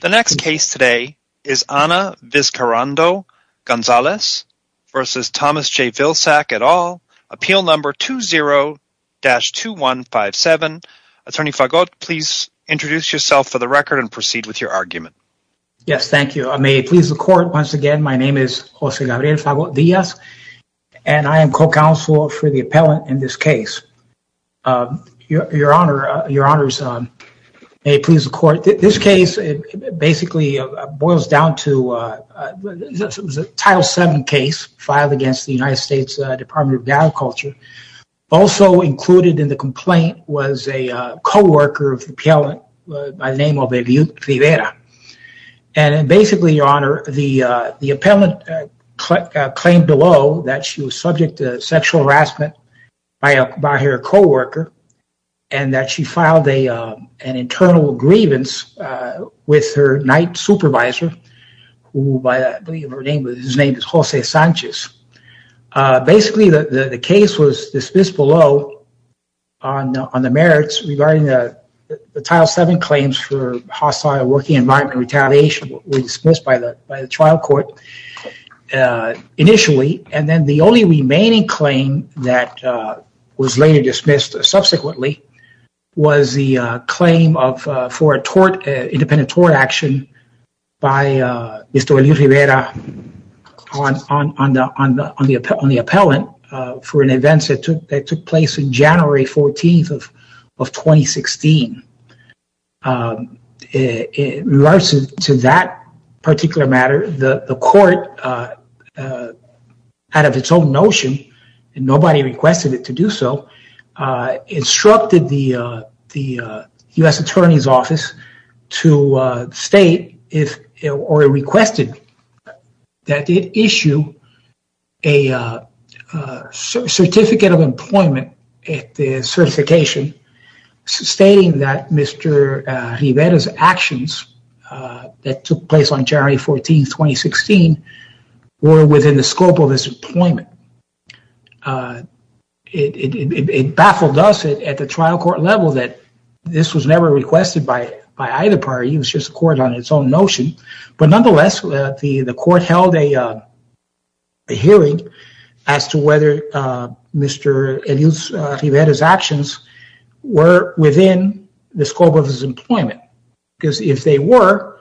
The next case today is Ana Vizcarrondo-Gonzalez versus Thomas J. Vilsack et al. Appeal number 20-2157. Attorney Fagot, please introduce yourself for the record and proceed with your argument. Yes, thank you. May it please the court, once again, my name is José Gabriel Fagot-Díaz and I am co-counsel for the appellant in this case. Your honor, may it please the court, this case basically boils down to a Title VII case filed against the United States Department of Agriculture. Also included in the complaint was a co-worker of the appellant by the name of Elia Rivera. And basically, your honor, the appellant claimed below that she was with her night supervisor, whose name is José Sánchez. Basically, the case was dismissed below on the merits regarding the Title VII claims for hostile working environment retaliation was dismissed by the trial court initially. And then the only remaining claim that was later subsequently was the claim for a independent tort action by Mr. Elia Rivera on the appellant for an event that took place on January 14th of 2016. In regards to that particular matter, the instructed the U.S. Attorney's Office to state or requested that it issue a Certificate of Employment certification stating that Mr. Rivera's actions that took place on January 14th, 2016 were within the scope of his employment. It baffled us at the trial court level that this was never requested by either party, it was just a court on its own notion. But nonetheless, the court held a hearing as to whether Mr. Elia Rivera's actions were within the scope of his employment. Because if they were,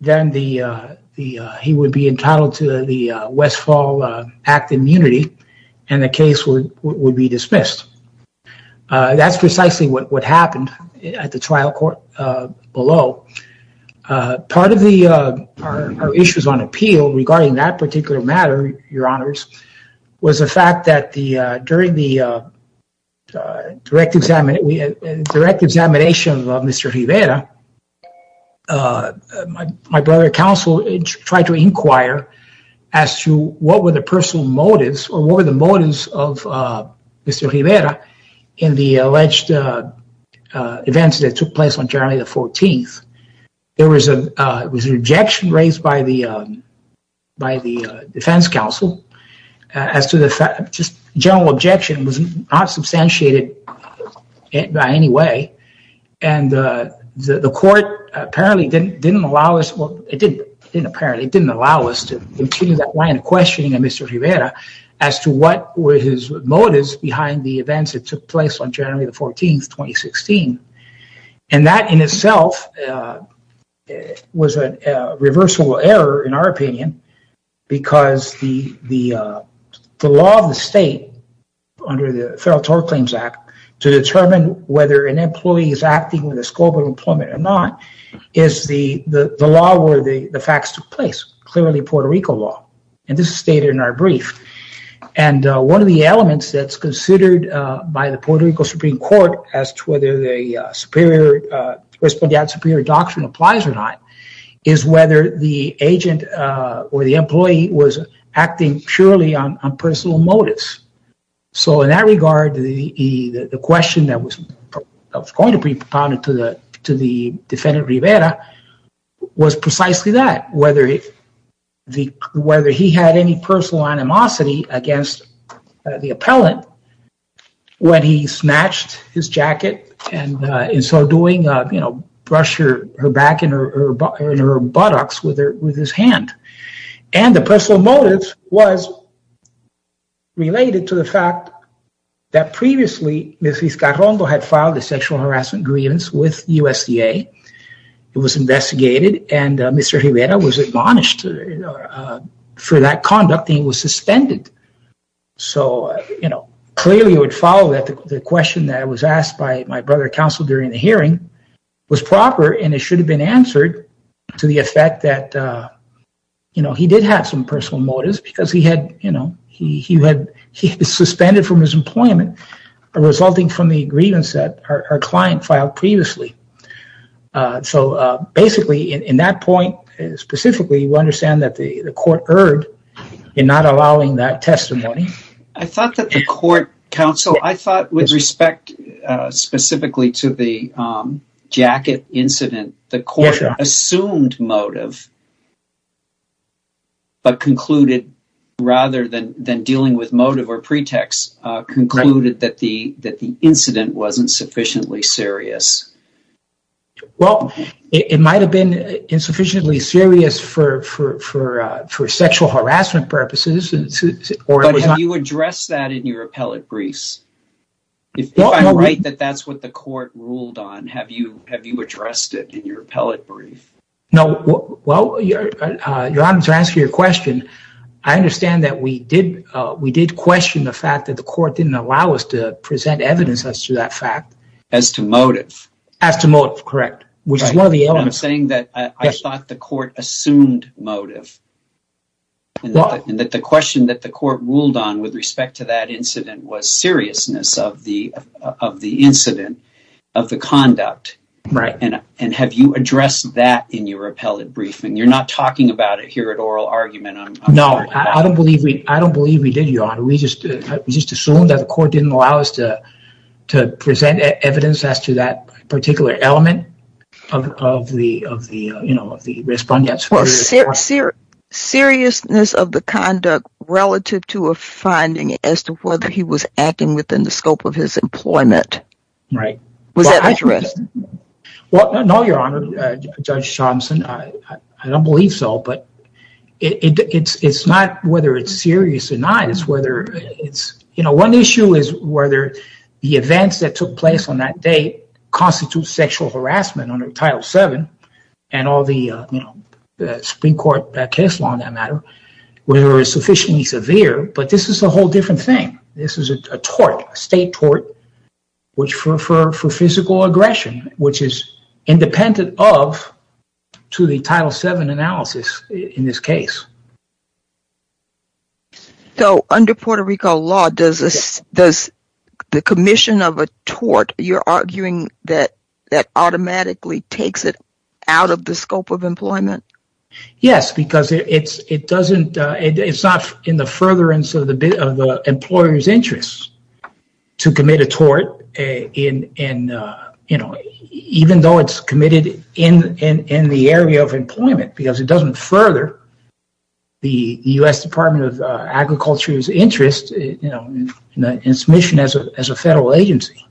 then he would be entitled to the Westfall Act of Immunity, and the case would be dismissed. That's precisely what happened at the trial court below. Part of our issues on appeal regarding that particular matter, your honors, was the fact that during the direct examination of Mr. Rivera, my brother counsel tried to inquire as to what were the personal motives or what were the motives of Mr. Rivera in the alleged events that took place on January the 14th. There was an objection raised by the defense counsel as to the fact, just general objection was not substantiated by any way. The court apparently didn't allow us to continue that line of questioning of Mr. Rivera as to what were his motives behind the events that took place on January the 14th, 2016. That in itself was a reversal error in our opinion, because the law of the state under the Federal Tort Claims Act to determine whether an employee is acting with the scope of employment or not is the law where the facts took place, clearly Puerto Rico law, and this is stated in our brief. One of the elements that's considered by the Puerto Rico Supreme Court as to whether the superior respondeat superior doctrine applies or not is whether the agent or the employee was acting purely on personal motives. So in that regard, the question that was going to be propounded to the defendant Rivera was precisely that, whether he had any personal animosity against the appellant when he snatched his jacket and in so doing, you know, brushed her back and her buttocks with his hand. And the personal motive was related to the fact that previously Ms. Vizcarrondo had filed a sexual harassment grievance with USDA. It was investigated and Mr. Rivera was admonished for that conduct and was suspended. So, you know, clearly you would follow that the question that was asked by my brother counsel during the hearing was proper and it should have been answered to the effect that, you know, he did have some personal motives because he had, you know, he had, he was suspended from his employment, resulting from the grievance that our client filed previously. So basically in that point, specifically you understand that the court erred in not allowing that testimony. I thought that the court counsel, I thought with respect specifically to the jacket incident, the court assumed motive but concluded rather than dealing with motive or pretext, concluded that the incident wasn't sufficiently serious. Well, it might have been insufficiently serious for sexual harassment purposes. But have you addressed that in your appellate briefs? If I'm right that that's what the court ruled on, have you addressed it in your appellate brief? No, well, your honor, to answer your question, I understand that we did question the fact that the court didn't allow us to present evidence as to that fact. As to motive. As to motive, correct, which is one of the elements. I'm saying that I thought the court assumed motive and that the question that the court ruled on with respect to that incident was seriousness of the incident, of the conduct. Right. And have you addressed that in your appellate briefing? You're not talking about it here at oral argument. No, I don't believe we did, your honor. We just assumed the court didn't allow us to present evidence as to that particular element of the, you know, of the respondent. Seriousness of the conduct relative to a finding as to whether he was acting within the scope of his employment. Right. Was that addressed? Well, no, your honor, Judge Thompson, I don't believe so, but it's not whether it's serious or not. It's whether it's, you know, one issue is whether the events that took place on that date constitute sexual harassment under Title VII and all the, you know, the Supreme Court case law on that matter, whether it's sufficiently severe, but this is a whole different thing. This is a tort, a state tort, which for physical aggression, which is independent of to the Title VII analysis in this case. So under Puerto Rico law, does the commission of a tort, you're arguing that that automatically takes it out of the scope of employment? Yes, because it doesn't, it's not in the furtherance of the employer's interests to commit a tort in, you know, even though it's further the U.S. Department of Agriculture's interest, you know, in submission as a federal agency.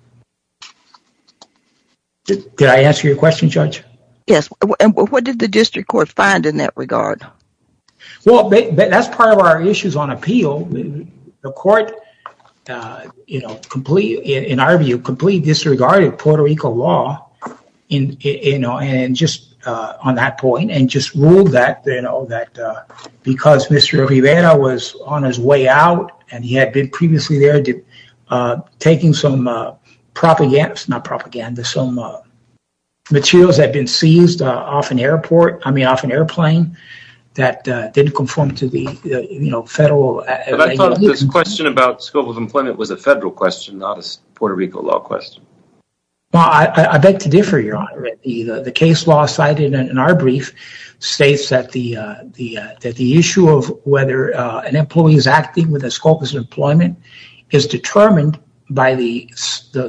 Did I answer your question, Judge? Yes. And what did the district court find in that regard? Well, that's part of our issues on appeal. The court, you know, in our view, completely disregarded Puerto Rico law in, you know, and just on that point and just ruled that, you know, that because Mr. Rivera was on his way out and he had been previously there taking some propaganda, not propaganda, some materials that had been seized off an airport, I mean, off an airplane that didn't conform to the, you know, federal. This question about scope of employment was a federal question, not a Puerto Rico law question. Well, I beg to differ, Your Honor. The case law cited in our brief states that the issue of whether an employee is acting with a scope of employment is determined by the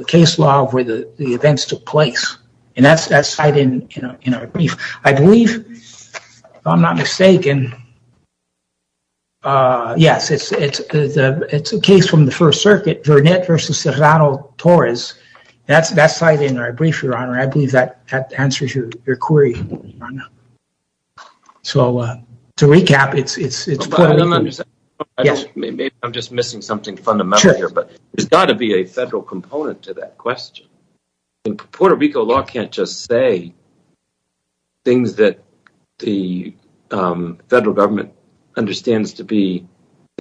case law where the events took place. And that's cited in our brief. I believe, if I'm not mistaken, yes, it's a case from the First Circuit, Vernet versus Serrano-Torres. That's cited in our brief, Your Honor. I believe that answers your query, Your Honor. So, to recap, it's... I don't understand. Maybe I'm just missing something fundamental here, but there's got to be a federal component to that question. Puerto Rico law can't just say things that the federal government understands to be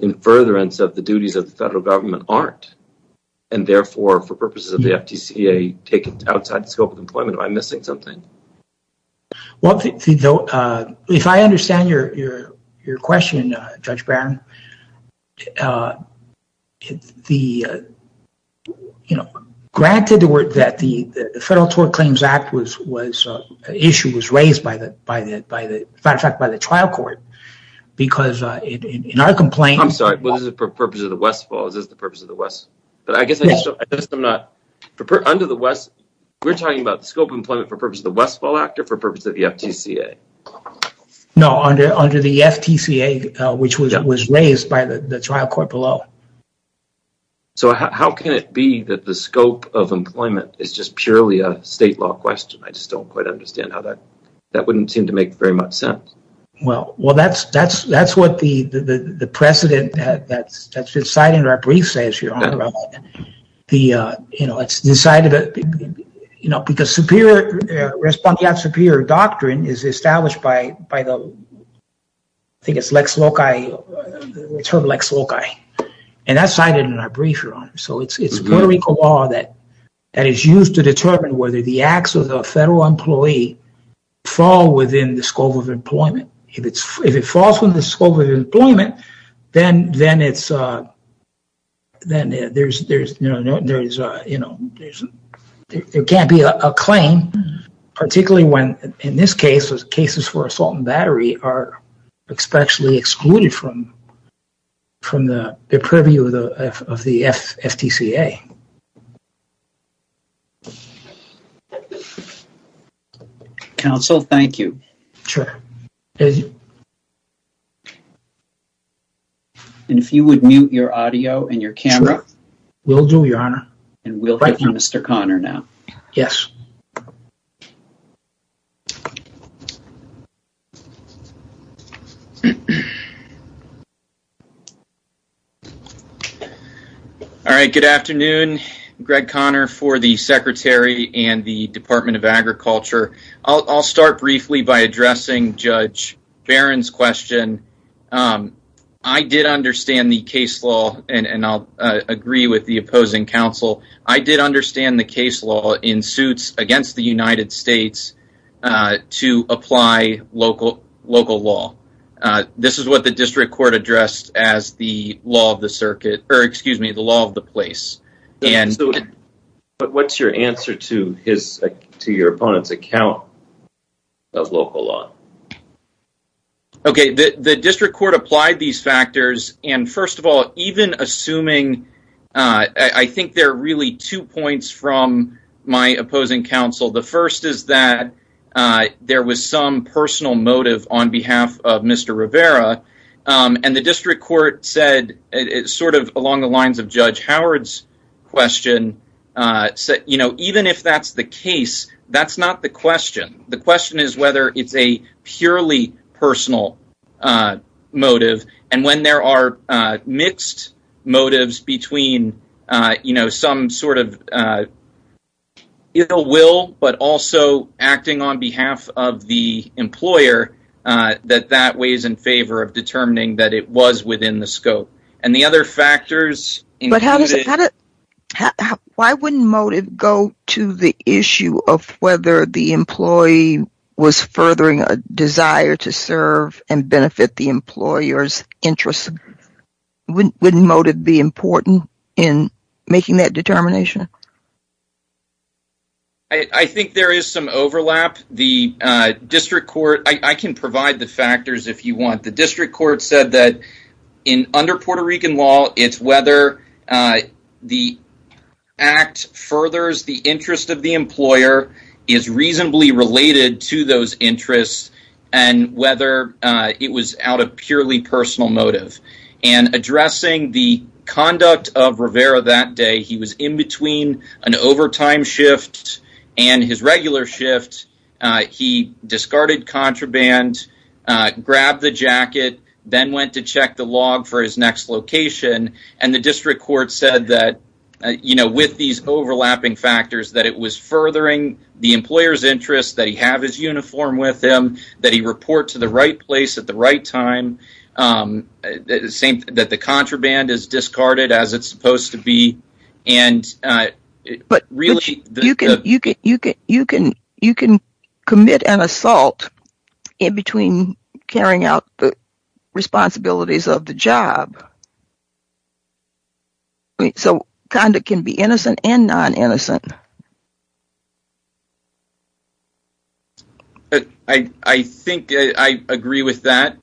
in furtherance of the duties of the federal government aren't, and therefore, for purposes of the FTCA, take it outside the scope of employment by missing something. Well, if I understand your question, Judge Barron, the, you know, granted that the Federal Tort Claims Act issue was raised, as a matter of fact, by the trial court, because in our complaint... I'm sorry. Was it for the purpose of the Westfall, or was it for the purpose of the West? But I guess I'm not... Under the West, we're talking about the scope of employment for the purpose of the Westfall Act or for the purpose of the FTCA? No, under the FTCA, which was raised by the trial court below. So how can it be that the scope of employment is just purely a state law question? I just don't quite understand how that... That wouldn't seem to make very much sense. Well, that's what the precedent that's decided in our brief says here. You know, it's decided, you know, because respondeat superior doctrine is established by the... I think it's Lex Loci, the term Lex Loci, and that's cited in our brief, Your Honor. So it's Puerto Rico law that is used to determine whether the acts of the federal employee fall within the scope of employment. If it falls within the scope of employment, then there can't be a claim, particularly when, in this case, cases for assault and battery are especially excluded from the purview of the FTCA. Counsel, thank you. And if you would mute your audio and your camera. Will do, Your Honor. And we'll hear from Mr. Conner now. Yes. All right. Good afternoon. Greg Conner for the Secretary and the Department of Agriculture. I'll start briefly by addressing Judge Barron's question. I did understand the case law, and I'll agree with the opposing counsel. I did understand the case law in suits against the United States to apply local law. This is what the district court addressed as the law of the circuit, or excuse me, the law of the place. But what's your answer to your opponent's account of local law? Okay. The district court applied these factors. And first of all, even assuming, I think there are really two points from my opposing counsel. The first is that there was some personal motive on behalf of Mr. Rivera. And the district court said, sort of along the lines of Judge Howard's question, you know, even if that's the case, that's not the question. The question is whether it's a purely personal motive. And when there are mixed motives between, you know, some sort of ill will, but also acting on behalf of the employer, that that weighs in favor of determining that it was within the scope. And the other factors. But why wouldn't motive go to the issue of whether the employee was furthering a desire to serve and benefit the employer's interests? Wouldn't motive be important in making that determination? I think there is some overlap. The district court, I can provide the factors if you want. The district court said that under Puerto Rican law, it's whether the act furthers the interest of the employer, is reasonably related to those interests, and whether it was out of purely personal motive. And addressing the conduct of Rivera that day, he was in between an overtime shift and his regular shift. He discarded contraband, grabbed the jacket, then went to check the log for his next location. And the district court said that, you know, with these overlapping factors, that it was furthering the employer's interests, that he have his uniform with him, that he report to the right place at the right time, that the contraband is discarded as it's supposed to be. You can commit an assault in between carrying out the responsibilities of the job. So conduct can be innocent and non-innocent. I think I agree with that.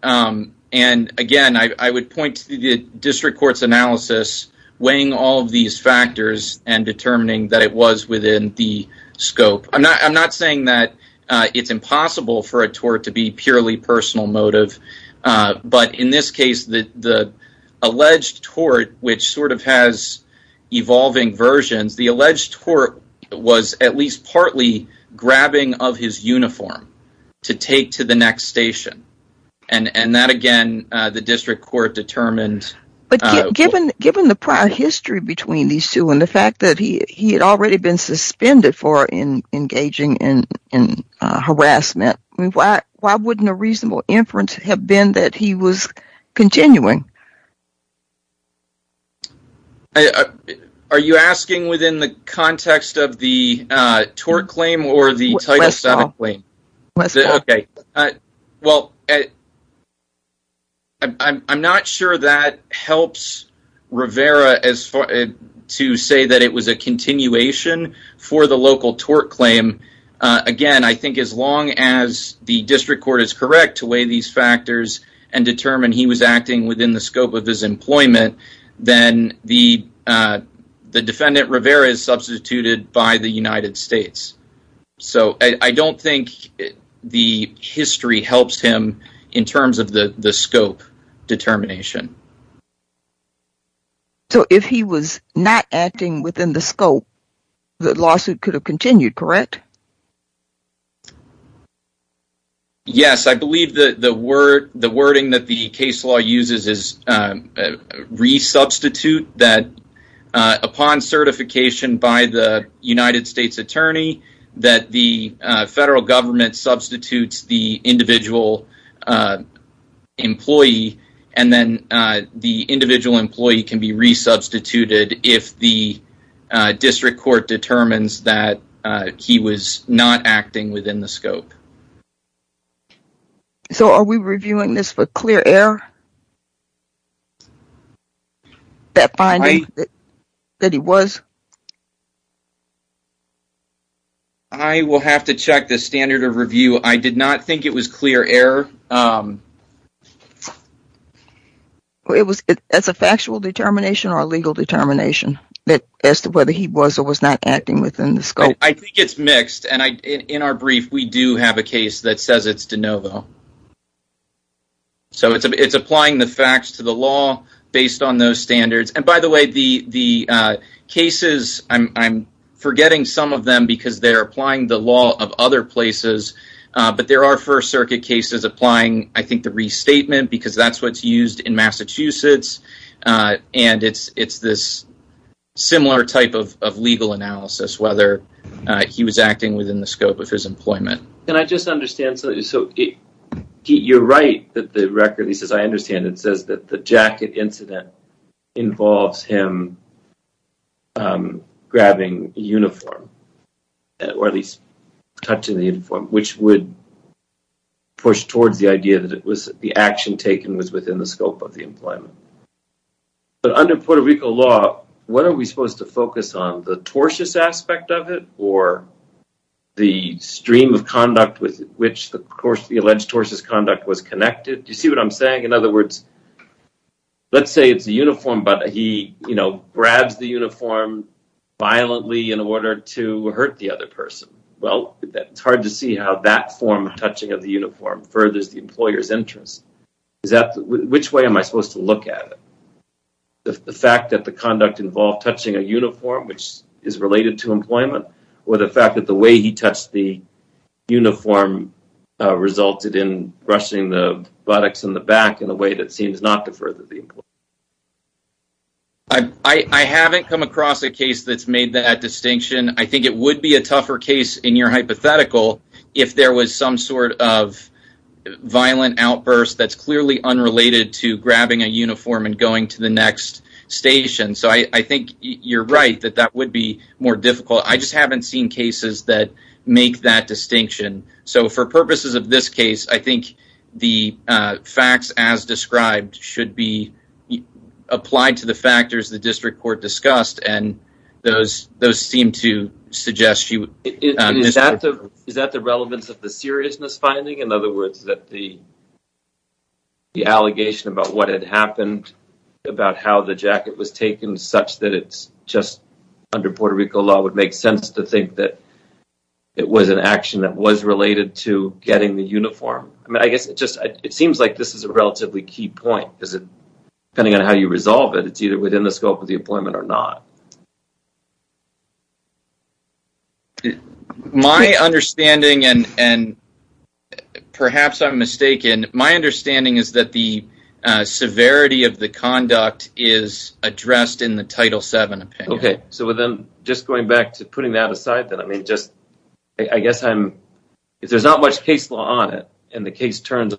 And again, I would point to the district court's analysis, weighing all of these factors and determining that it was within the scope. I'm not saying that it's impossible for a tort to be purely personal motive. But in this case, the alleged tort, which sort of has evolving versions, the alleged tort was at least partly grabbing of his uniform to take to the next station. And that, again, the district court determined. Given the prior history between these two and the fact that he had already been suspended for engaging in harassment, why wouldn't a reasonable inference have been that he was continuing? I, are you asking within the context of the tort claim or the Title VII claim? Okay, well, I'm not sure that helps Rivera to say that it was a continuation for the local tort claim. Again, I think as long as the district court is correct to weigh these factors and then the defendant Rivera is substituted by the United States. So I don't think the history helps him in terms of the scope determination. So if he was not acting within the scope, the lawsuit could have continued, correct? Yes, I believe that the word, the wording that the case law uses is resubstitute that upon certification by the United States attorney, that the federal government substitutes the individual employee, and then the individual employee can be resubstituted if the district court determines that he was not acting within the scope. So are we reviewing this for clear error? That finding that he was? I will have to check the standard of review. I did not think it was clear error. It was as a factual determination or a legal determination as to whether he was or was not acting within the scope. I think it's mixed. And in our brief, we do have a case that says it's de novo. So it's applying the facts to the law based on those standards. And by the way, the cases, I'm forgetting some of them because they're applying the law of other places. But there are First Circuit cases applying, I think, the restatement because that's what's used in similar type of legal analysis, whether he was acting within the scope of his employment. Can I just understand? So you're right that the record, at least as I understand it, says that the jacket incident involves him grabbing a uniform, or at least touching the uniform, which would push towards the idea that it was the action taken was within the scope of his employment. What are we supposed to focus on? The tortuous aspect of it? Or the stream of conduct with which the alleged tortuous conduct was connected? Do you see what I'm saying? In other words, let's say it's a uniform, but he grabs the uniform violently in order to hurt the other person. Well, it's hard to see how that form of touching of the uniform furthers the employer's interest. Which way am I supposed to look at it? The fact that the conduct involved touching a uniform, which is related to employment, or the fact that the way he touched the uniform resulted in brushing the buttocks and the back in a way that seems not to further the employer? I haven't come across a case that's made that distinction. I think it would be a tougher case in your hypothetical if there was some sort of violent outburst that's clearly unrelated to employment. I think you're right that that would be more difficult. I just haven't seen cases that make that distinction. So, for purposes of this case, I think the facts as described should be applied to the factors the district court discussed, and those seem to suggest you... Is that the relevance of the seriousness finding? In other words, that the just under Puerto Rico law would make sense to think that it was an action that was related to getting the uniform? I mean, I guess it just seems like this is a relatively key point. Depending on how you resolve it, it's either within the scope of the employment or not. My understanding, and perhaps I'm mistaken, is that the severity of the conduct is addressed in the Title VII opinion. Okay, so then just going back to putting that aside, then I mean just I guess I'm... If there's not much case law on it, and the case turns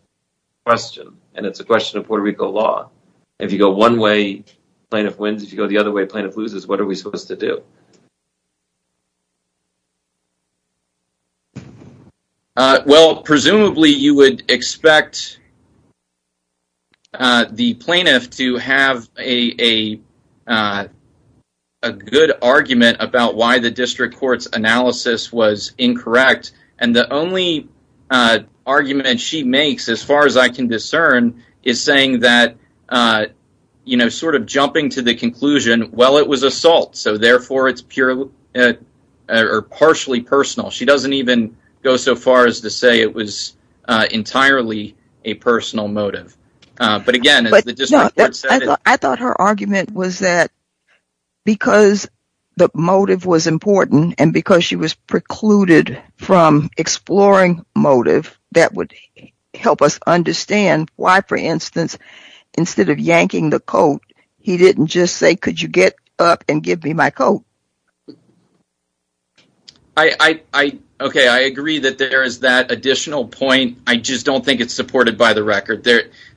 question, and it's a question of Puerto Rico law, if you go one way, plaintiff wins. If you go the other way, plaintiff loses. What are we supposed to do? Well, presumably you would expect the plaintiff to have a good argument about why the district court's analysis was incorrect, and the only argument she makes, as far as I can discern, is saying that, you know, sort of jumping to the conclusion, well, it was assault, so therefore it's partially personal. She doesn't even go so far as to say it was entirely a personal motive, but again... I thought her argument was that because the motive was important, and because she was precluded from exploring motive, that would help us understand why, for instance, instead of yanking the coat, he didn't just say, could you get up and give me my coat? I agree that there is that additional point. I just don't think it's supported by the record.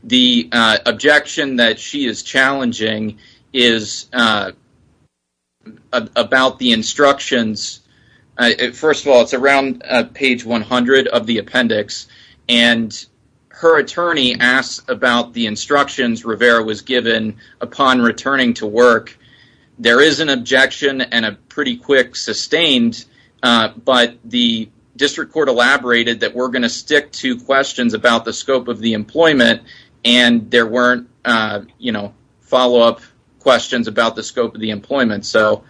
The objection that she is challenging is about the instructions. First of all, it's around page 100 of the appendix, and her attorney asks about the instructions Rivera was given upon returning to work. There is an objection and a pretty quick sustained, but the district court elaborated that we're going to stick to questions about the scope of the employment, and there weren't, you know, follow-up questions about the scope of the employment. So,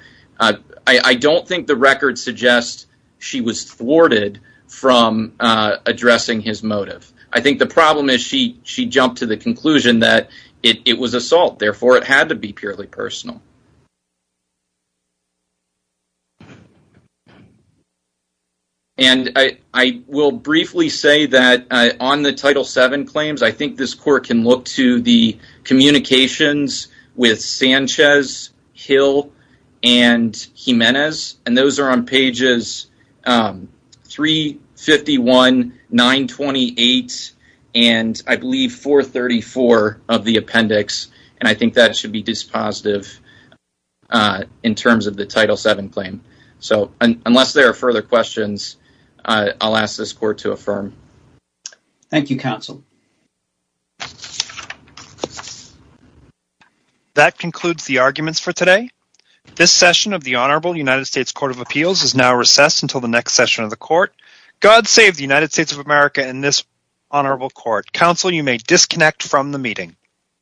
I don't think the record suggests she was thwarted from addressing his motive. I think the problem is she jumped to the conclusion that it was assault, therefore it had to be purely personal. I will briefly say that on the Title VII claims, I think this court can look to the and I believe 434 of the appendix, and I think that should be dispositive in terms of the Title VII claim. So, unless there are further questions, I'll ask this court to affirm. Thank you, counsel. That concludes the arguments for today. This session of the Honorable United States Court of Appeals is now recessed until the next session of the court. God save the United States of court. Counsel, you may disconnect from the meeting.